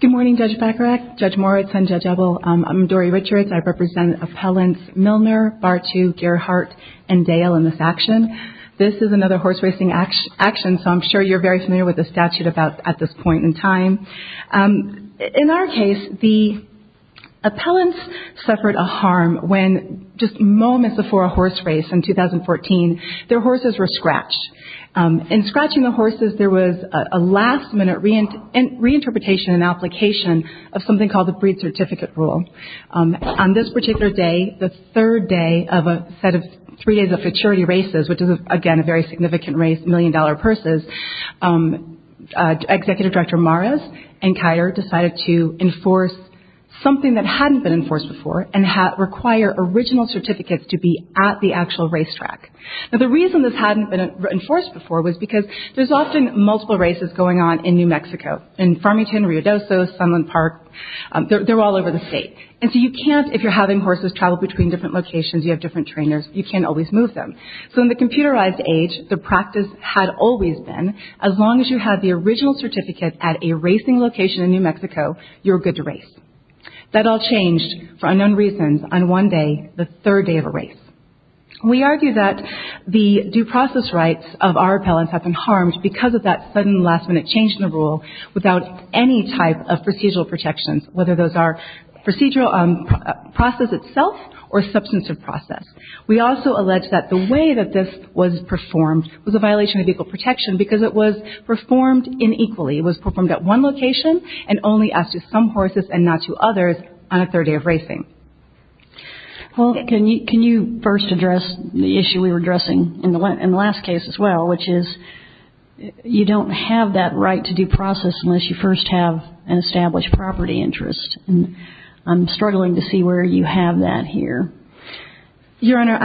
Good morning, Judge Fakarek, Judge Moritz, and Judge Ebel. I'm Dori Richards. I represent Appellants Milner, Bartu, Gerhardt, and Dale in this action. This is another horse racing action, so I'm sure you're very familiar with the statute about at this point in time. In our case, the appellants suffered a harm when just moments before a horse race in 2014, their horses were scratched. In scratching the horses, there was a last-minute reinterpretation and application of something called the breed certificate rule. On this particular day, the third day of a set of three days of futurity races, which is, again, a very significant race, a million-dollar purses, Executive Director Mares and Keiter decided to enforce something that hadn't been enforced before and require original certificates to be at the actual race track. Now, the reason this hadn't been enforced before was because there's often multiple races going on in New Mexico, in Farmington, Riodoso, Sunland Park, they're all over the state. And so you can't, if you're having horses travel between different locations, you have different trainers, you can't always move them. So in the computerized age, the practice had always been, as long as you had the original certificate at a racing location in New Mexico, you were good to race. That all changed for unknown reasons on one day, the third day of a race. We argue that the due process rights of our appellants have been harmed because of that sudden last-minute change in the rule without any type of procedural protections, whether those are procedural process itself or substantive process. We also allege that the way that this was performed was a violation of legal protection because it was performed inequally. It was performed at one location and only asked to some horses and not to others on a third day of racing. Well, can you first address the issue we were addressing in the last case as well, which is you don't have that right to due process unless you first have an established property interest. I'm struggling to see where you have that here. Your Honor,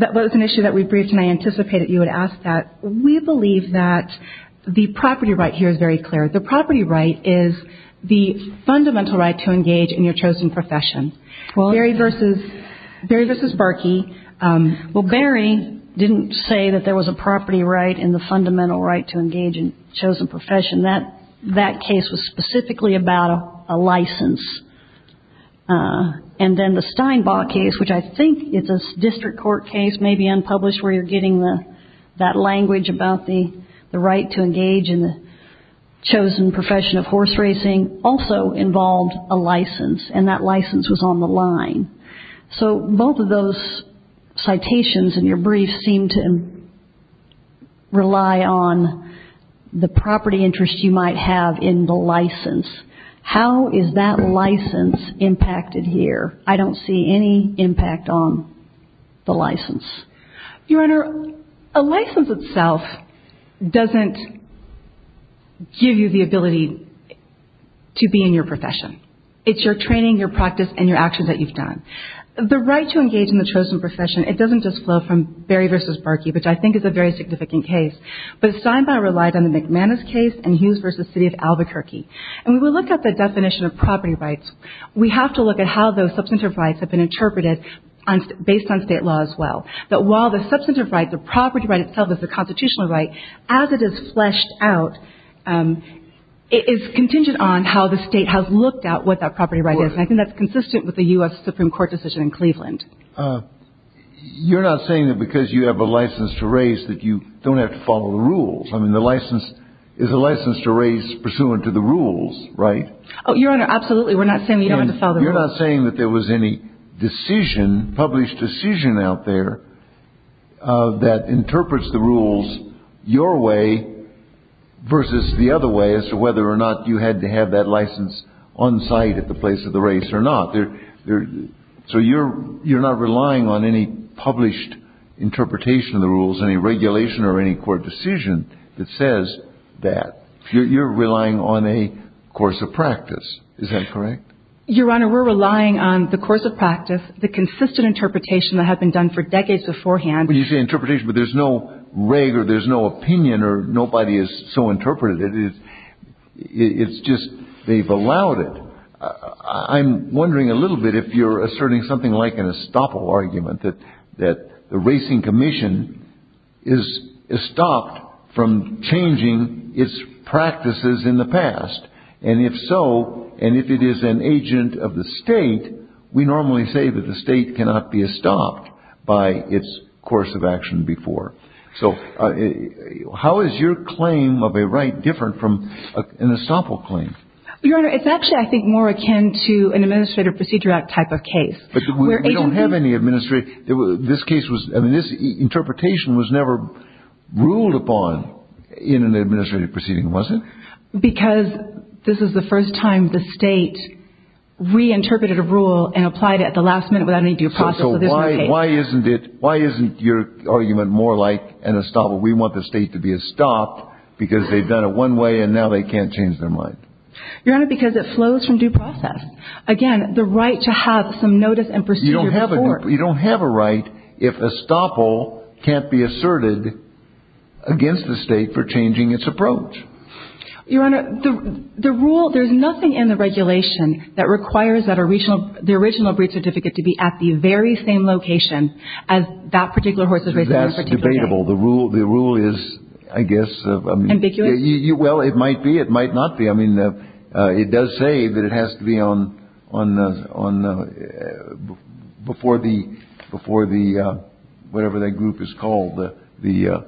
that was an issue that we briefed and I anticipated you would ask that. We believe that the property right here is very clear. The property right is the fundamental right to engage in your chosen profession. Barry versus Berkey. Well, Barry didn't say that there was a property right and the fundamental right to engage in chosen profession. That case was specifically about a license. And then the Steinbaugh case, which I think is a district court case, maybe unpublished, where you're getting that language about the right to engage in the chosen profession of horse racing, also involved a license and that license was on the line. So both of those citations in your brief seem to rely on the property interest you might have in the license. How is that license impacted here? I don't see any impact on the license. Your Honor, a license itself doesn't give you the ability to be in your profession. It's your training, your practice, and your actions that you've done. The right to engage in the chosen profession, it doesn't just flow from Barry versus Berkey, which I think is a very significant case. But Steinbaugh relied on the McManus case and Hughes versus City of Albuquerque. And when we look at the definition of property rights, we have to look at how those substantive rights have been interpreted based on state law as well. That while the substantive right, the property right itself is a constitutional right, as it is fleshed out, it is contingent on how the state has looked at what that property right is. And I think that's consistent with the U.S. Supreme Court decision in Cleveland. You're not saying that because you have a license to race that you don't have to follow the rules. I mean, the license is a license to race pursuant to the rules, right? Your Honor, absolutely. We're not saying you don't have to follow the rules. You're not saying that there was any decision, published decision out there, that interprets the rules your way versus the other way as to whether or not you had to have that license on site at the place of the race or not. So you're not relying on any published interpretation of the rules, any regulation or any court decision that says that. You're relying on a course of practice. Is that correct? Your Honor, we're relying on the course of practice, the consistent interpretation that had been done for decades beforehand. When you say interpretation, but there's no reg or there's no opinion or nobody has so interpreted it. It's just they've allowed it. I'm wondering a little bit if you're asserting something like an estoppel argument that that the Racing Commission is stopped from changing its practices in the past. And if so, and if it is an agent of the state, we normally say that the state cannot be estopped by its course of action before. So how is your claim of a right different from an estoppel claim? Your Honor, it's actually, I think, more akin to an Administrative Procedure Act type of case. But we don't have any administrative. This case was, I mean, this interpretation was never ruled upon in an administrative proceeding, was it? Because this is the first time the state reinterpreted a rule and applied it at the last minute without any due process of this case. So why isn't it, why isn't your argument more like an estoppel? We want the state to be estopped because they've done it one way and now they can't change their mind. Your Honor, because it flows from due process. Again, the right to have some notice and procedure before. You don't have a right if estoppel can't be asserted against the state for changing its approach. Your Honor, the rule, there's nothing in the regulation that requires that the original breed certificate to be at the very same location as that particular horse is raised on a particular day. That's debatable. The rule is, I guess, I mean. Ambiguous? Well, it might be, it might not be. I mean, it does say that it has to be on, before the whatever that group is called, the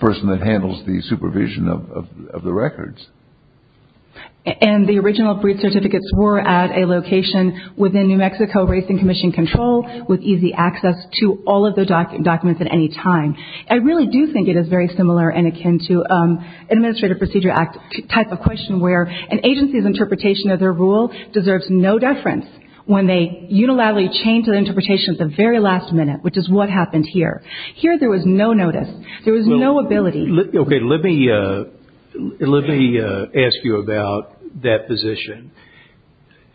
person that handles the supervision of the records. And the original breed certificates were at a location within New Mexico Racing Commission control with easy access to all of the documents at any time. I really do think it is very similar and akin to Administrative Procedure Act type of question where an agency's interpretation of their rule deserves no deference when they unilaterally change their interpretation at the very last minute, which is what happened here. Here there was no notice. There was no ability. Okay. Let me ask you about that position,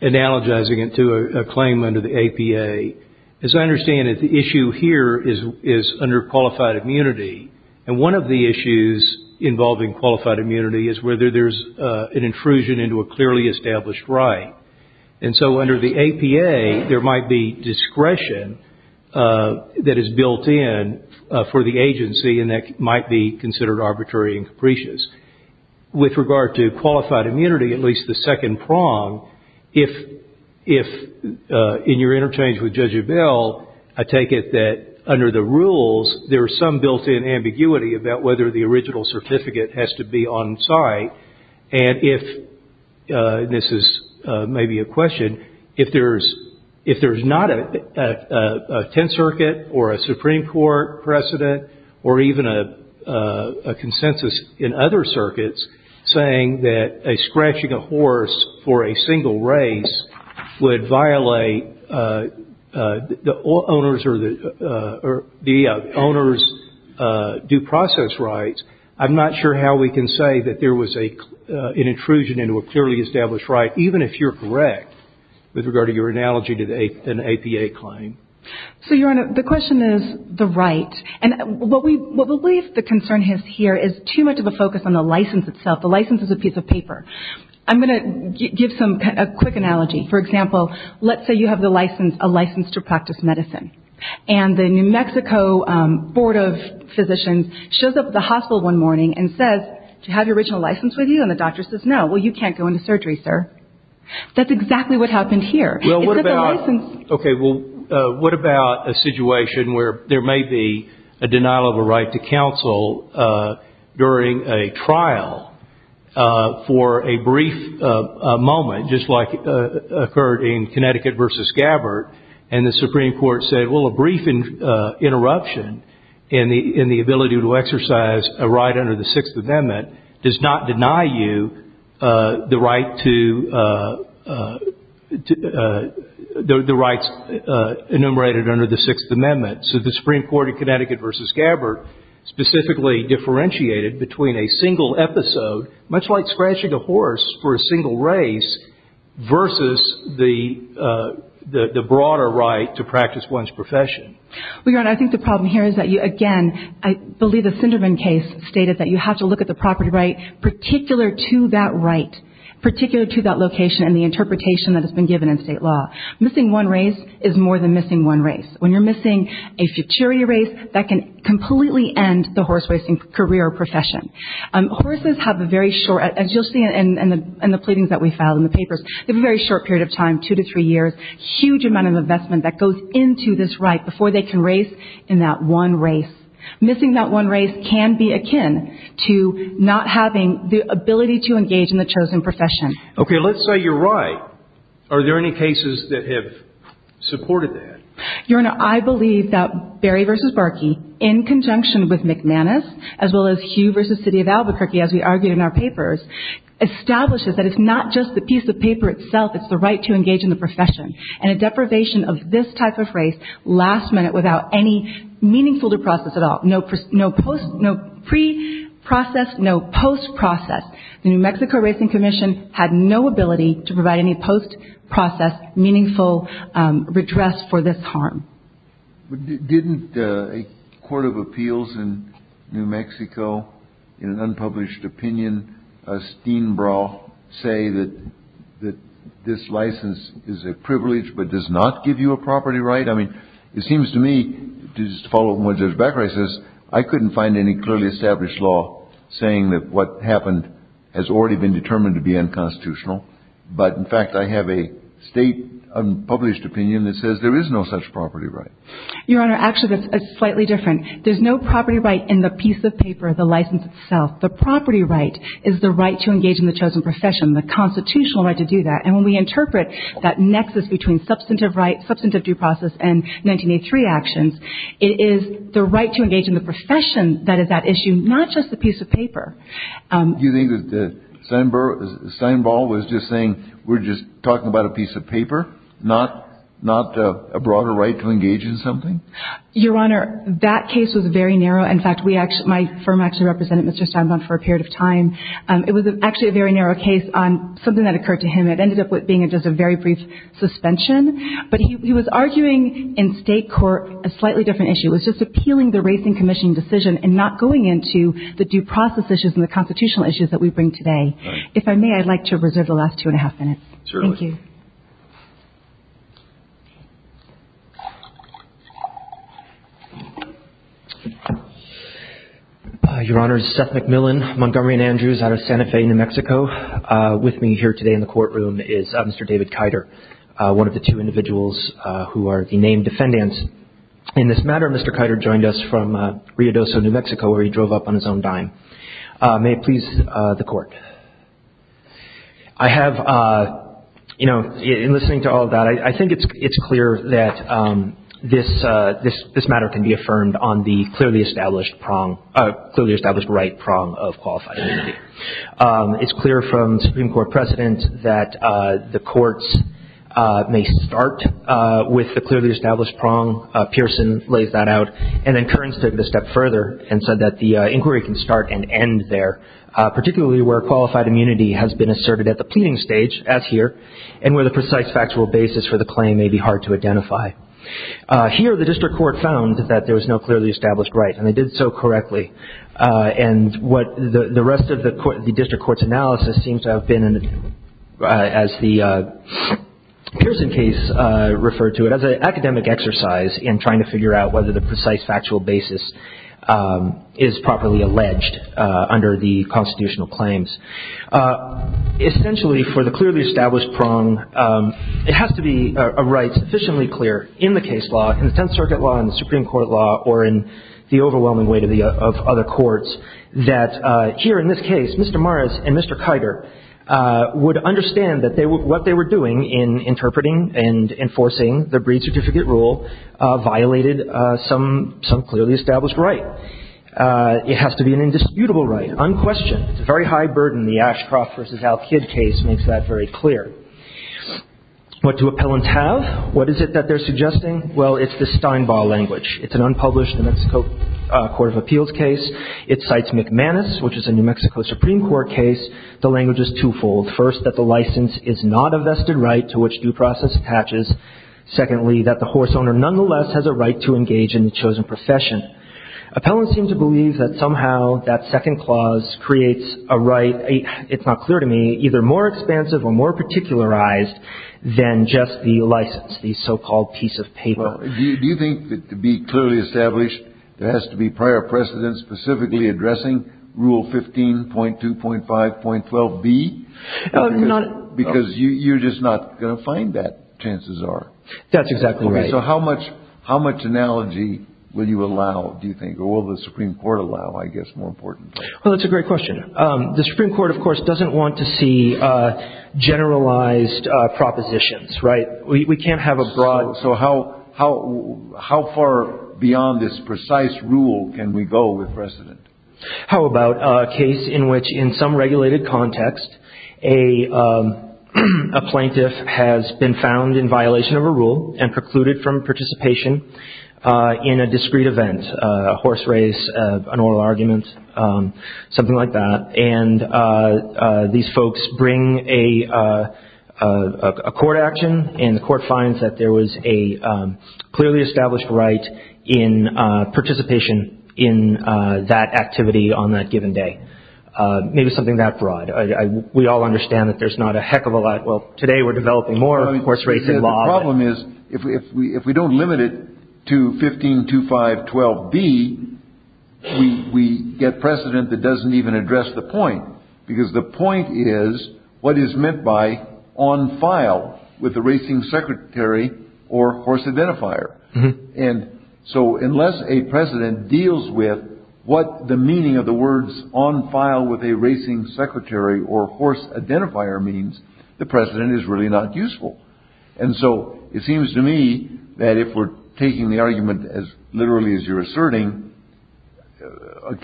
analogizing it to a claim under the APA. As I understand it, the issue here is under qualified immunity. And one of the issues involving qualified immunity is whether there is an intrusion into a clearly established right. And so under the APA, there might be discretion that is built in for the agency and that might be considered arbitrary and capricious. With regard to qualified immunity, at least the second prong, if in your interchange with Judge Abell, I take it that under the rules, there is some built-in ambiguity about whether the original certificate has to be on site. And if this is maybe a question, if there is not a Tenth Circuit or a Supreme Court precedent or even a consensus in other circuits saying that scratching a horse for a single race would violate the owner's due process rights, I'm not sure how we can say that there was an intrusion into a clearly established right, even if you're correct with regard to your analogy to an APA claim. So, Your Honor, the question is the right. And what we believe the concern is here is too much of a focus on the license itself. The license is a piece of paper. I'm going to give a quick analogy. For example, let's say you have a license to practice medicine. And the New Mexico Board of Physicians shows up at the hospital one morning and says, do you have your original license with you? And the doctor says, no. Well, you can't go into surgery, sir. That's exactly what happened here. Well, what about a situation where there may be a denial of a right to counsel during a trial for a brief moment, just like occurred in Connecticut v. Gabbard, and the Supreme Court said, well, a brief interruption in the ability to exercise a right under the Sixth Amendment does not deny you the rights enumerated under the Sixth Amendment. So the Supreme Court in Connecticut v. Gabbard specifically differentiated between a single episode, much like scratching a horse for a single race, versus the broader right to practice medicine. Well, Your Honor, I think the problem here is that, again, I believe the Sinderman case stated that you have to look at the property right particular to that right, particular to that location and the interpretation that has been given in state law. Missing one race is more than missing one race. When you're missing a futurity race, that can completely end the horse racing career or profession. Horses have a very short, as you'll see in the pleadings that we filed in the papers, they have a very short period of time, two to three years, huge amount of investment that goes into this right before they can race in that one race. Missing that one race can be akin to not having the ability to engage in the chosen profession. Okay, let's say you're right. Are there any cases that have supported that? Your Honor, I believe that Berry v. Barkey, in conjunction with McManus, as well as Hugh v. City of Albuquerque, as we argued in our papers, establishes that it's not just the piece of paper itself, it's the right to engage in the profession. And a deprivation of this type of race, last minute, without any meaningful to process at all, no pre-process, no post-process. The New Mexico Racing Commission had no ability to provide any post-process meaningful redress for this harm. Didn't a court of appeals in New Mexico, in an unpublished opinion, Steenbrough, say that this license is a privilege but does not give you a property right? I mean, it seems to me, just to follow up on what Judge Becker says, I couldn't find any clearly established law saying that what happened has already been determined to be unconstitutional. But in fact, I have a state unpublished opinion that says there is no such property right. Your Honor, actually, that's slightly different. There's no property right in the piece of paper, the license itself. The property right is the right to engage in the chosen profession, the constitutional right to do that. And when we interpret that nexus between substantive right, substantive due process, and 1983 actions, it is the right to engage in the profession You think Steenbrough was just saying, we're just talking about a piece of paper, not a broader right to engage in something? Your Honor, that case was very narrow. In fact, my firm actually represented Mr. Steinbaum for a period of time. It was actually a very narrow case on something that occurred to him. It ended up with being just a very brief suspension. But he was arguing in state court a slightly different issue. It was just appealing the Racing Commission decision and not going into the due process issues and the constitutional issues that we bring today. If I may, I'd like to reserve the last two and a half minutes. Thank you. Your Honor, Seth McMillan, Montgomery & Andrews out of Santa Fe, New Mexico. With me here today in the courtroom is Mr. David Keiter, one of the two individuals who are the named defendants. In this matter, Mr. Keiter joined us from Rio Doso, New Mexico, where he drove up on his own dime. May it please the Court. In listening to all of that, I think it's clear that this matter can be affirmed on the clearly established right prong of qualified immunity. It's clear from Supreme Court precedent that the courts may start with the clearly established prong. Pearson lays that out. And then Kearns took it a step further and said that the inquiry can start and end there, particularly where qualified immunity has been asserted at the pleading stage, as here, and where the precise factual basis for the claim may be hard to identify. Here, the district court found that there was no clearly established right, and they did so correctly. And what the rest of the district court's analysis seems to have been, as the Pearson case referred to it, as an academic exercise in trying to figure out whether the precise factual basis is properly alleged under the constitutional claims. Essentially, for the clearly established prong, it has to be a right sufficiently clear in the case law, in the Tenth Circuit law, in the Supreme Court law, or in the overwhelming weight of other courts, that here, in this case, Mr. Morris and Mr. Kiger would understand what they were doing in interpreting and enforcing the breed certificate rule violated some clearly established right. It has to be an indisputable right, unquestioned. It's a very high burden. The Ashcroft v. Alkid case makes that very clear. What do appellants have? What is it that they're suggesting? Well, it's the Steinbaugh language. It's an unpublished New Mexico Court of Appeals case. It cites McManus, which is a New Mexico Supreme Court case. The language is twofold. First, that the license is not a vested right to which due process attaches. Secondly, that the horse owner nonetheless has a right to engage in the chosen profession. Appellants seem to believe that somehow that second clause creates a right, it's not clear to me, either more expansive or more particularized than just the license, the so-called piece of paper. Do you think that to be clearly established, there has to be prior precedence specifically addressing Rule 15.2.5.12b? Because you're just not going to find that, chances are. That's exactly right. So how much analogy will you allow, do you think, or will the Supreme Court allow, I guess, more importantly? Well, that's a great question. The Supreme Court, of course, doesn't want to see generalized propositions, right? We can't have a broad... So how far beyond this precise rule can we go with precedent? How about a case in which, in some regulated context, a plaintiff has been found in violation of a rule and precluded from participation in a discreet event, a horse race, an oral argument, something like that. And these folks bring a court action, and the court finds that there was a clearly established right in participation in that activity on that given day. Maybe something that broad. We all understand that there's not a heck of a lot... Well, today we're developing more, of course, race and law... The problem is, if we don't limit it to 15.2.5.12b, we get precedent that doesn't even address the point, because the point is what is meant by on file with the racing secretary or horse identifier. And so unless a precedent deals with what the meaning of the words on file with a racing secretary or horse identifier means, the precedent is really not useful. And so it seems to me that if we're taking the argument as literally as you're asserting,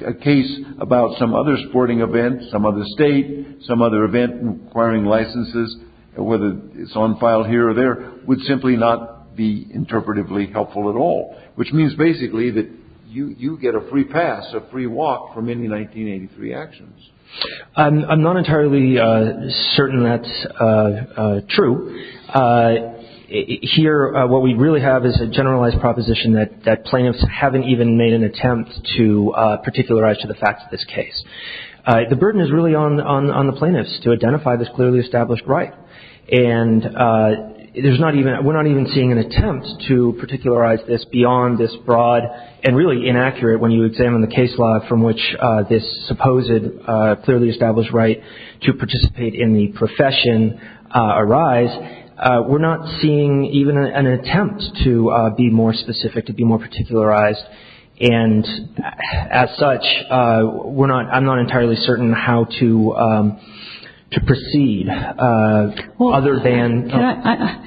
a case about some other sporting event, some other state, some other event requiring licenses, whether it's on file here or there, would simply not be interpretively helpful at all. Which means basically that you get a free pass, a free walk from any 1983 actions. I'm not entirely certain that's true. Here, what we really have is a generalized proposition that plaintiffs haven't even made an attempt to particularize to the facts of this case. The burden is really on the plaintiffs to identify this clearly established right. And we're not even seeing an attempt to particularize this beyond this broad and really inaccurate when you examine the case law from which this supposed clearly established right to participate in the profession arise. We're not seeing even an attempt to be more specific, to be more particularized. And as such, I'm not entirely certain how to proceed other than – Well,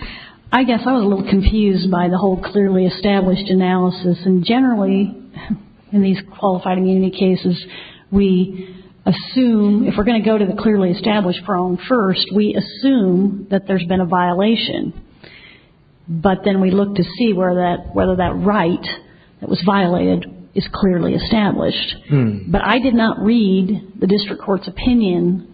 I guess I was a little confused by the whole clearly established analysis. And generally in these qualified immunity cases, we assume, if we're going to go to the clearly established prong first, we assume that there's been a violation. But then we look to see whether that right that was violated is clearly established. But I did not read the district court's opinion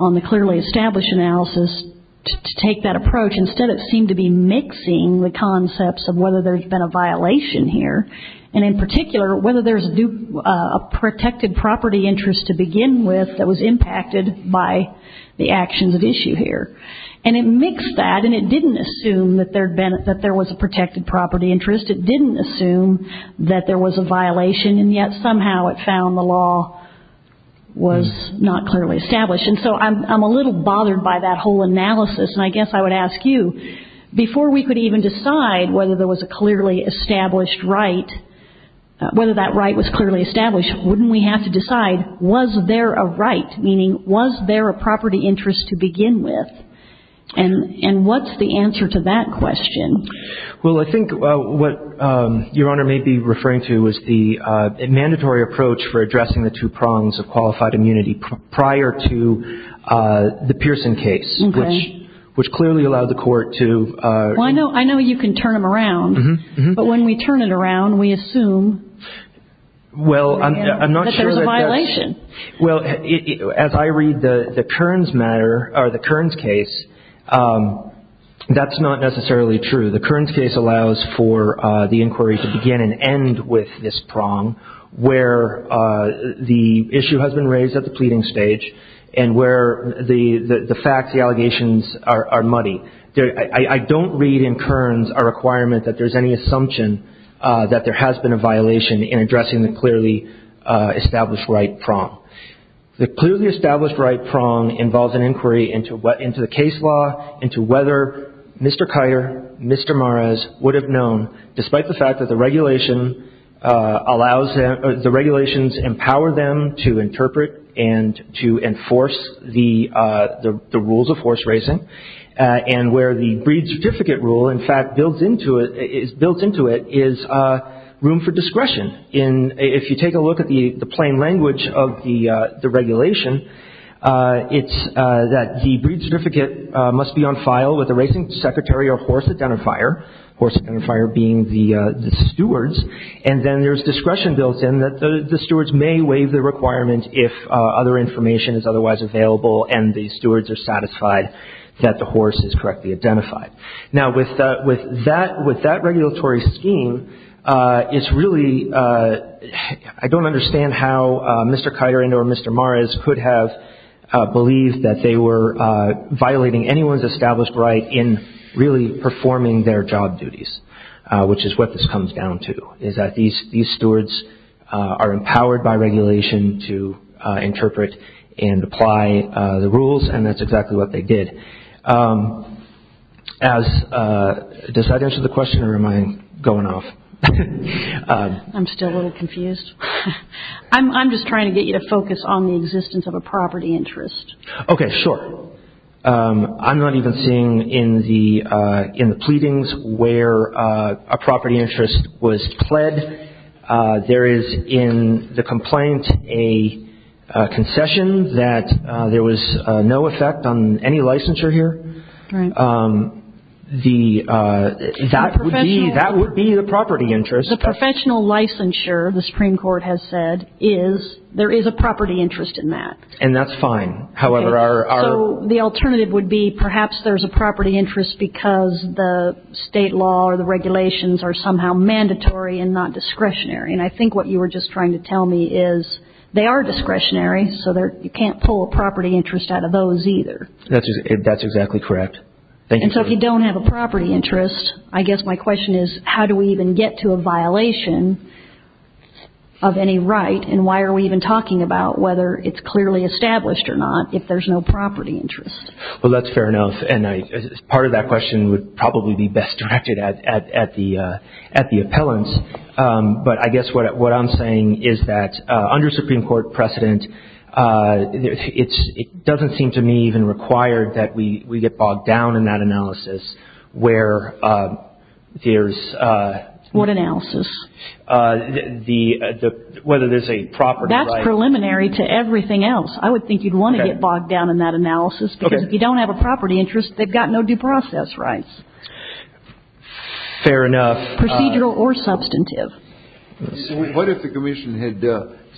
on the clearly established analysis to take that approach. Instead, it seemed to be mixing the concepts of whether there's been a violation here, and in particular, whether there's a protected property interest to begin with that was impacted by the actions at issue here. And it mixed that, and it didn't assume that there was a protected property interest. It didn't assume that there was a violation, and yet somehow it found the law was not clearly established. And so I'm a little bothered by that whole analysis. And I guess I would ask you, before we could even decide whether there was a clearly established right, whether that right was clearly established, wouldn't we have to decide, was there a right? Meaning, was there a property interest to begin with? And what's the answer to that question? Well, I think what Your Honor may be referring to is the mandatory approach for addressing the two prongs of qualified immunity prior to the Pearson case, which clearly allowed the court to – Well, I know you can turn them around, but when we turn it around, we assume that there's a violation. Well, as I read the Kearns case, that's not necessarily true. The Kearns case allows for the inquiry to begin and end with this prong, where the issue has been raised at the pleading stage, and where the facts, the allegations are muddy. I don't read in Kearns a requirement that there's any assumption that there has been a violation in addressing the clearly established right prong. The clearly established right prong involves an inquiry into the case law, into whether Mr. Kiter, Mr. Mares would have known, despite the fact that the regulation allows – the regulation allows the court to enforce the rules of horse racing, and where the breed certificate rule, in fact, is built into it is room for discretion. If you take a look at the plain language of the regulation, it's that the breed certificate must be on file with the racing secretary or horse identifier, horse identifier being the stewards, and then there's discretion built in that the stewards may waive the requirement if other information is otherwise available and the stewards are satisfied that the horse is correctly identified. Now with that regulatory scheme, it's really – I don't understand how Mr. Kiter or Mr. Mares could have believed that they were violating anyone's established right in really performing their job duties, which is what this comes down to, is that these stewards are empowered by regulation to interpret and apply the rules, and that's exactly what they did. As – does that answer the question or am I going off? I'm still a little confused. I'm just trying to get you to focus on the existence of a property interest. Okay, sure. I'm not even seeing in the pleadings where a property interest was pled. There is in the complaint a concession that there was no effect on any licensure here. The – that would be the property interest. The professional licensure, the Supreme Court has said, is there is a property interest in that. And that's fine, however, our – So the alternative would be perhaps there's a property interest because the state law or the regulations are somehow mandatory and not discretionary, and I think what you were just trying to tell me is they are discretionary, so you can't pull a property interest out of those either. That's exactly correct. Thank you. And so if you don't have a property interest, I guess my question is how do we even get to a violation of any right, and why are we even talking about whether it's clearly established or not if there's no property interest? Well, that's fair enough, and part of that question would probably be best directed at the appellant, but I guess what I'm saying is that under Supreme Court precedent, it doesn't seem to me even required that we get bogged down in that analysis where there's What analysis? Whether there's a property right. That's preliminary to everything else. I would think you'd want to get bogged down in that analysis because if you don't have a property interest, they've got no due process rights. Fair enough. Procedural or substantive? What if the Commission had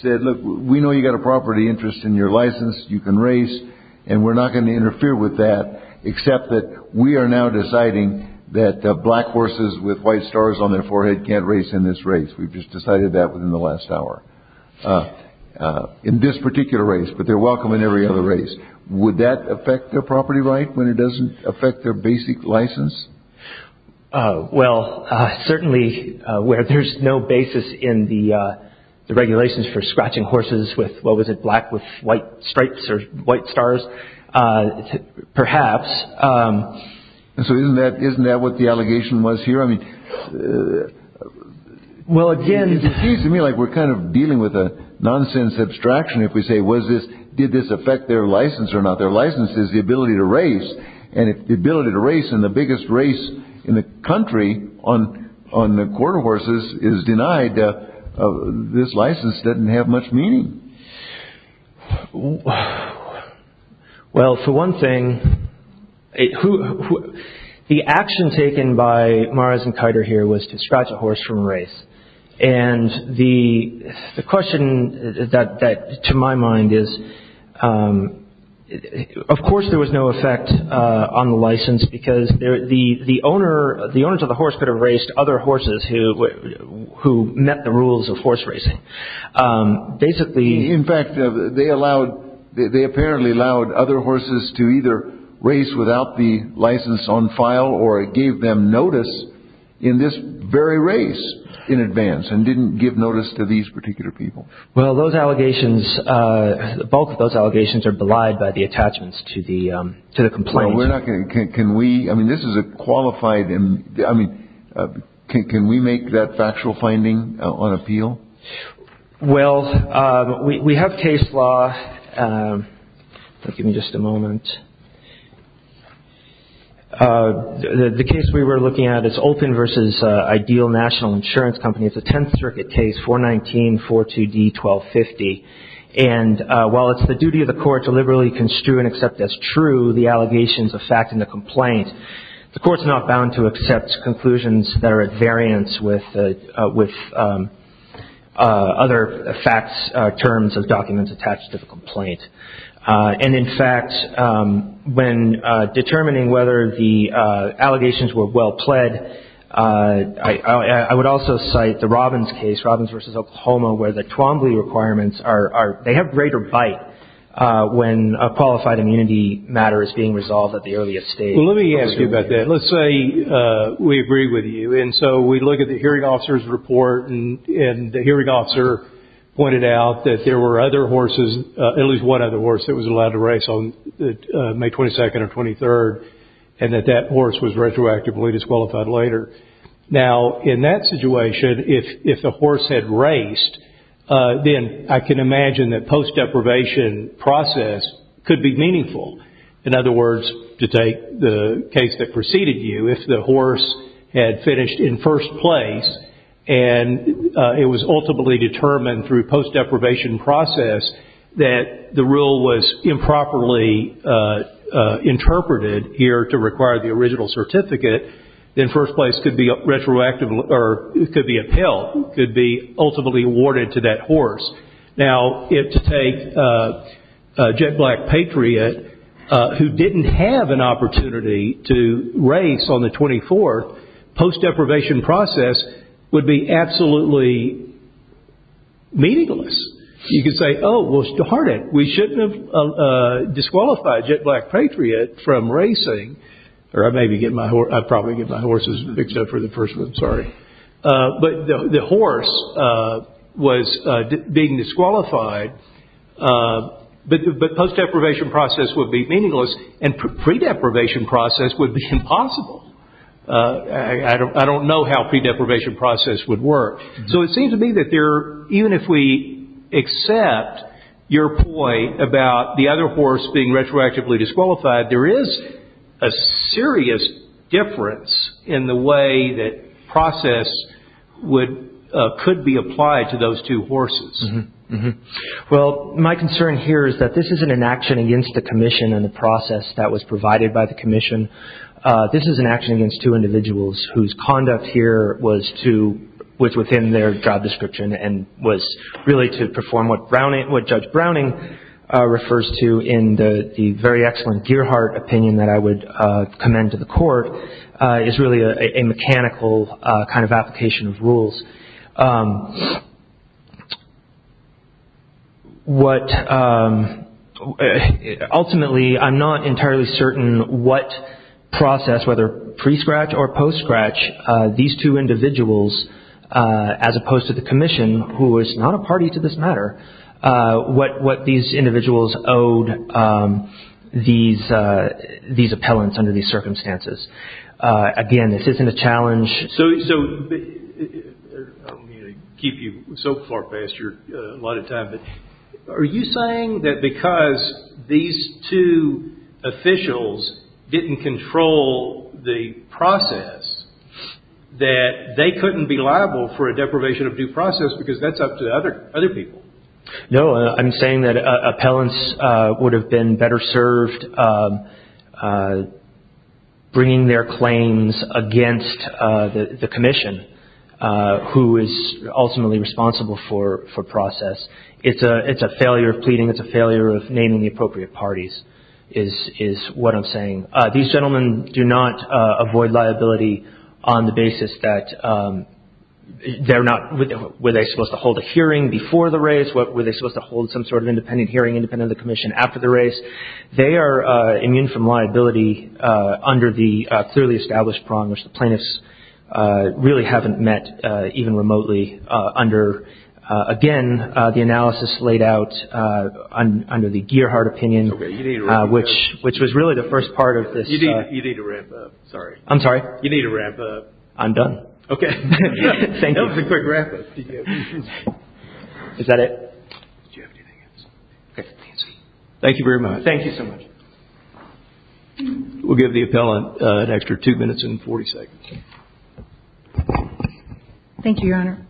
said, look, we know you've got a property interest in your license, you can race, and we're not going to interfere with that except that we are now deciding that black horses with white stars on their forehead can't race in this race. We've just decided that within the last hour in this particular race, but they're welcome in every other race. Would that affect their property right when it doesn't affect their basic license? Well, certainly where there's no basis in the regulations for scratching horses with what was it, black with white stripes or white stars, perhaps. So isn't that what the allegation was here? It seems to me like we're kind of dealing with a nonsense abstraction if we say did this affect their license or not. Their license is the ability to race, and if the ability to race in the biggest race in the country on the quarter horses is denied, this license doesn't have much meaning. Well, for one thing, the action taken by Morris and Kiter here was to scratch a horse from the quarter horses. The question to my mind is, of course there was no effect on the license because the owners of the horse could have raced other horses who met the rules of horse racing. In fact, they apparently allowed other horses to either race without the license on file or gave them notice in this very race in advance and didn't give notice to these particular people. Well, those allegations, both of those allegations are belied by the attachments to the complaint. Well, we're not going to, can we, I mean this is a qualified, I mean, can we make that factual finding on appeal? Well, we have case law, give me just a moment. The case we were looking at is Olpin v. Ideal National Insurance Company, it's a Tenth Circuit case 419-42D-1250, and while it's the duty of the court to liberally construe and accept as true the allegations of fact in the complaint, the court's not bound to accept conclusions that are at variance with other facts, terms of documents attached to the complaint. And in fact, when determining whether the allegations were well pled, I would also cite the Robbins case, Robbins v. Oklahoma, where the Twombly requirements are, they have greater bite when a qualified immunity matter is being resolved at the earliest stage. Let me ask you about that, let's say we agree with you and so we look at the hearing officer's doubt that there were other horses, at least one other horse, that was allowed to race on May 22nd or 23rd, and that that horse was retroactively disqualified later. Now in that situation, if the horse had raced, then I can imagine that post-deprivation process could be meaningful. In other words, to take the case that preceded you, if the horse had finished in first place and it was ultimately determined through post-deprivation process that the rule was improperly interpreted here to require the original certificate, then first place could be retroactively, could be upheld, could be ultimately awarded to that horse. Now if to take a jet black patriot who didn't have an opportunity to race on the 24th, post-deprivation process would be absolutely meaningless. You could say, oh, well it's too hard, we shouldn't have disqualified jet black patriot from racing, or I'd probably get my horses fixed up for the first one, sorry. But the horse was being disqualified, but post-deprivation process would be meaningless and pre-deprivation process would be impossible. I don't know how pre-deprivation process would work. So it seems to me that even if we accept your point about the other horse being retroactively disqualified, there is a serious difference in the way that process could be applied to those two horses. Well, my concern here is that this isn't an action against the commission and the process that was provided by the commission. This is an action against two individuals whose conduct here was within their job description and was really to perform what Judge Browning refers to in the very excellent Gearhart opinion that I would commend to the court, is really a mechanical kind of application of rules. Ultimately, I'm not entirely certain what process, whether pre-scratch or post-scratch, these two individuals, as opposed to the commission, who is not a party to this matter, what these individuals owed these appellants under these circumstances. Again, this isn't a challenge. So, I don't mean to keep you so far past your allotted time, but are you saying that because these two officials didn't control the process that they couldn't be liable for a deprivation of due process because that's up to other people? No, I'm saying that appellants would have been better served bringing the case to the commission, bringing their claims against the commission, who is ultimately responsible for process. It's a failure of pleading. It's a failure of naming the appropriate parties, is what I'm saying. These gentlemen do not avoid liability on the basis that they're not, were they supposed to hold a hearing before the race? Were they supposed to hold some sort of independent hearing independent of the commission after the race? They are immune from liability under the clearly established prong, which the plaintiffs really haven't met even remotely under, again, the analysis laid out under the Gearhart opinion, which was really the first part of this. You need to wrap up. Sorry. I'm sorry? You need to wrap up. I'm done. Okay. Thank you. Is that it? Do you have anything else? Thank you very much. Thank you. Thank you so much. We'll give the appellant an extra two minutes and 40 seconds. Thank you, Your Honor.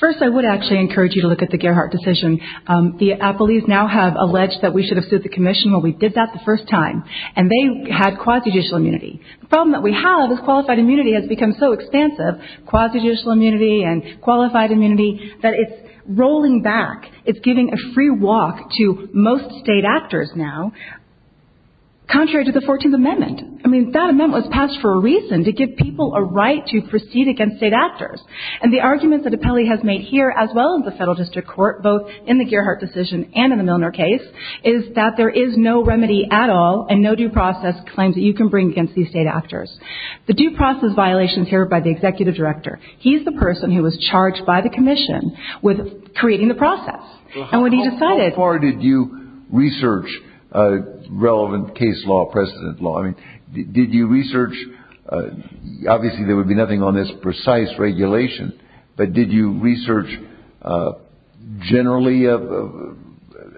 First, I would actually encourage you to look at the Gearhart decision. The appellees now have alleged that we should have sued the commission when we did that the first time, and they had quasi-judicial immunity. The problem that we have is qualified immunity has become so expansive, quasi-judicial immunity and qualified immunity, that it's rolling back. It's giving a free walk to most state actors now, contrary to the 14th Amendment. I mean, that amendment was passed for a reason, to give people a right to proceed against state actors. And the arguments that appellee has made here, as well as the federal district court, both in the Gearhart decision and in the Milner case, is that there is no remedy at all and no due process claims that you can bring against these state actors. The due process violations here by the executive director, he's the person who was charged by the commission with creating the process. And when he decided... How far did you research relevant case law, precedent law? Did you research... Obviously, there would be nothing on this precise regulation, but did you research generally of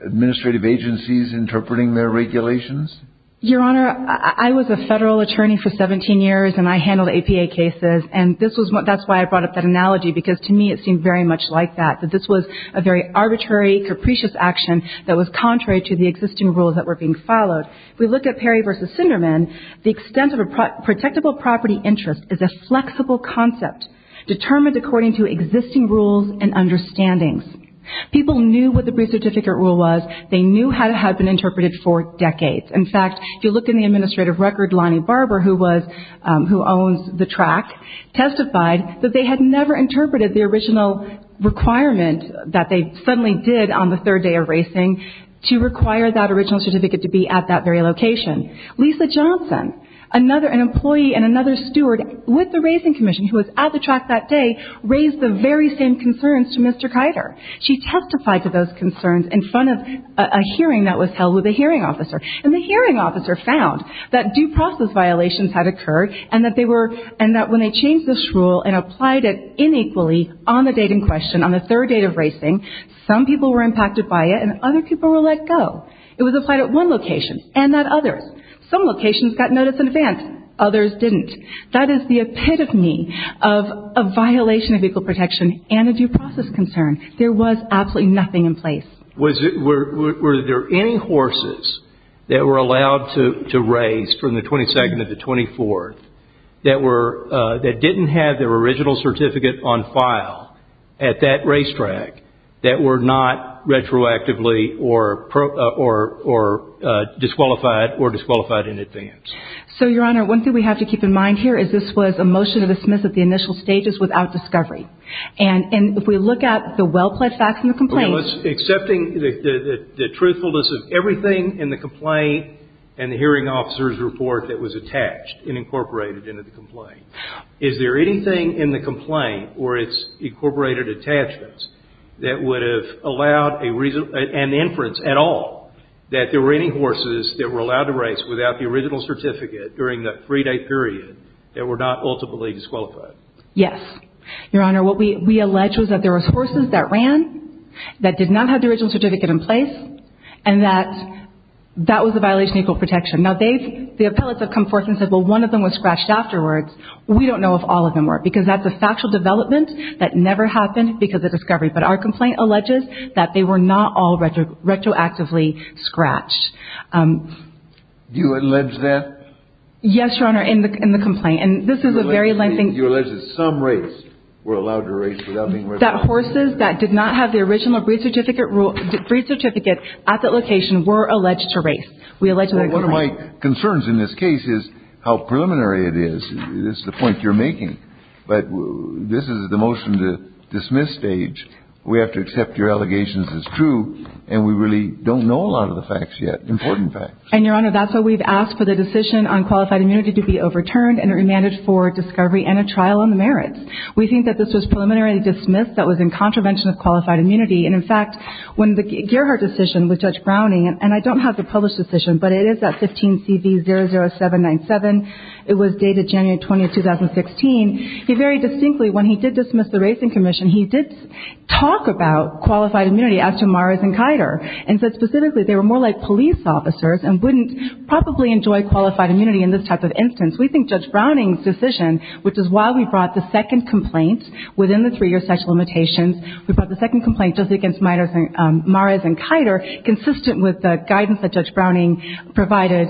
administrative agencies interpreting their regulations? Your Honor, I was a federal attorney for 17 years, and I handled APA cases. And this was what... That's why I brought up that analogy, because to me, it seemed very much like that, that this was a very arbitrary, capricious action that was contrary to the existing rules that were being followed. If we look at Perry v. Sinderman, the extent of a protectable property interest is a flexible concept determined according to existing rules and understandings. People knew what the brief certificate rule was, they knew how it had been interpreted for decades. In fact, if you look in the administrative record, Lonnie Barber, who owns the track, testified that they had never interpreted the original requirement that they suddenly did on the third day of racing to require that original certificate to be at that very location. Lisa Johnson, an employee and another steward with the racing commission who was at the track that day, raised the very same concerns to Mr. Keiter. She testified to those concerns in front of a hearing that was held with a hearing officer. And the hearing officer found that due process violations had occurred and that when they changed this rule and applied it inequally on the date in question, on the third day of racing, some people were impacted by it and other people were let go. It was applied at one location and at others. Some locations got notice in advance, others didn't. That is the epitome of a violation of equal protection and a due process concern. There was absolutely nothing in place. Were there any horses that were allowed to race from the 22nd to the 24th that didn't have their original certificate on file at that racetrack that were not retroactively or disqualified or disqualified in advance? So, Your Honor, one thing we have to keep in mind here is this was a motion of dismiss at the initial stages without discovery. And if we look at the well-pledged facts in the complaints... Accepting the truthfulness of everything in the complaint and the hearing officer's report that was attached and incorporated into the complaint, is there anything in the complaint or its incorporated attachments that would have allowed an inference at all that there were any horses that were allowed to race without the original certificate during that three-day period that were not ultimately disqualified? Yes. Your Honor, what we allege was that there was horses that ran, that did not have the original certificate in place, and that that was a violation of equal protection. Now, the appellates have come forth and said, well, one of them was scratched afterwards. We don't know if all of them were, because that's a factual development that never happened because of discovery. But our complaint alleges that they were not all retroactively scratched. You allege that? Yes, Your Honor, in the complaint. And this is a very lengthy... That horses that did not have the original breed certificate at that location were alleged to race. One of my concerns in this case is how preliminary it is. This is the point you're making, but this is the motion to dismiss stage. We have to accept your allegations as true, and we really don't know a lot of the facts yet, important facts. And, Your Honor, that's why we've asked for the decision on qualified immunity to be overturned and remanded for discovery and a trial on the merits. We think that this was preliminarily dismissed that was in contravention of qualified immunity. And, in fact, when the Gerhardt decision with Judge Browning, and I don't have the published decision, but it is that 15CV00797. It was dated January 20, 2016. He very distinctly, when he did dismiss the Racing Commission, he did talk about qualified immunity as to Mara's and Kider, and said specifically they were more like police officers and wouldn't probably enjoy qualified immunity in this type of instance. We think Judge Browning's decision, which is why we brought the second complaint within the three-year sexual limitations, we brought the second complaint just against Mara's and Kider consistent with the guidance that Judge Browning provided.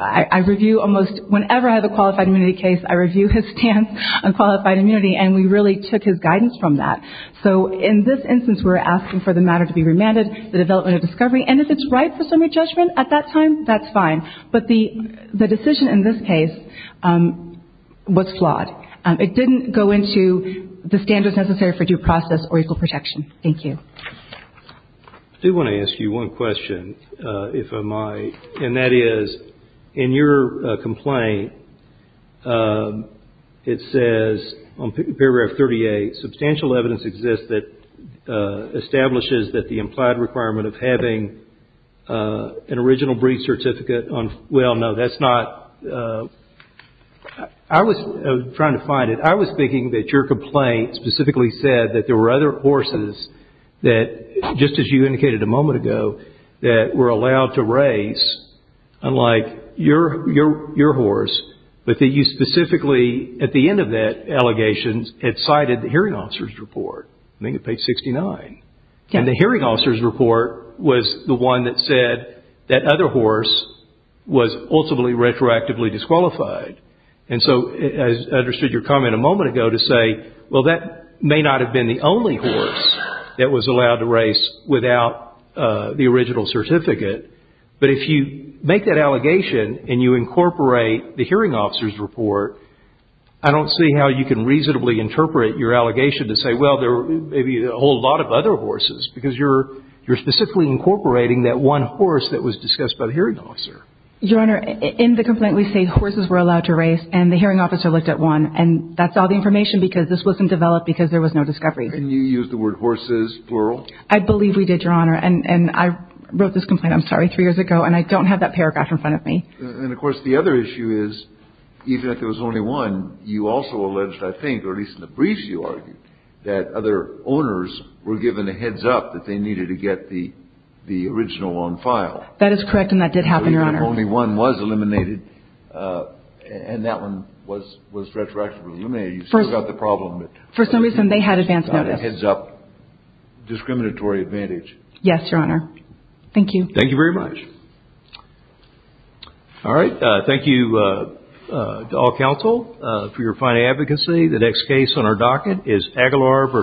I review almost whenever I have a qualified immunity case, I review his stance on qualified immunity, and we really took his guidance from that. So in this instance, we're asking for the matter to be remanded, the development of discovery, and if it's right for summary judgment at that time, that's fine. But the decision in this case was flawed. It didn't go into the standards necessary for due process or equal protection. Thank you. I do want to ask you one question, if I might, and that is, in your complaint, it says on paragraph 38, substantial evidence exists that establishes that the implied requirement of having an original breed certificate on... Well, no, that's not... I was trying to find it. I was thinking that your complaint specifically said that there were other horses that, just as you indicated a moment ago, that were allowed to race, unlike your horse, but that you specifically, at the end of that allegation, had cited the hearing officer's report. I think it's page 69. Yeah. And the hearing officer's report was the one that said that other horse was ultimately retroactively disqualified. And so I understood your comment a moment ago to say, well, that may not have been the only horse that was allowed to race without the original certificate, but if you make that allegation and you incorporate the hearing officer's report, I don't see how you can reasonably interpret your allegation to say, well, there may be a whole lot of other horses because you're specifically incorporating that one horse that was discussed by the hearing officer. Your Honor, in the complaint, we say horses were allowed to race, and the hearing officer looked at one, and that's all the information because this wasn't developed because there was no discovery. And you used the word horses, plural? I believe we did, Your Honor. And I wrote this complaint, I'm sorry, three years ago, and I don't have that paragraph in front of me. And, of course, the other issue is, even if there was only one, you also alleged, I think, or at least in the briefs you argued, that other owners were given a heads-up that they needed to get the original on file. That is correct, and that did happen, Your Honor. So even if only one was eliminated, and that one was retroactively eliminated, you still got the problem. For some reason, they had advance notice. You still got a heads-up, discriminatory advantage. Yes, Your Honor. Thank you. Thank you very much. Thank you. Thank you. All right. Thank you to all counsel for your fine advocacy. The next case on our docket is Aguilar v.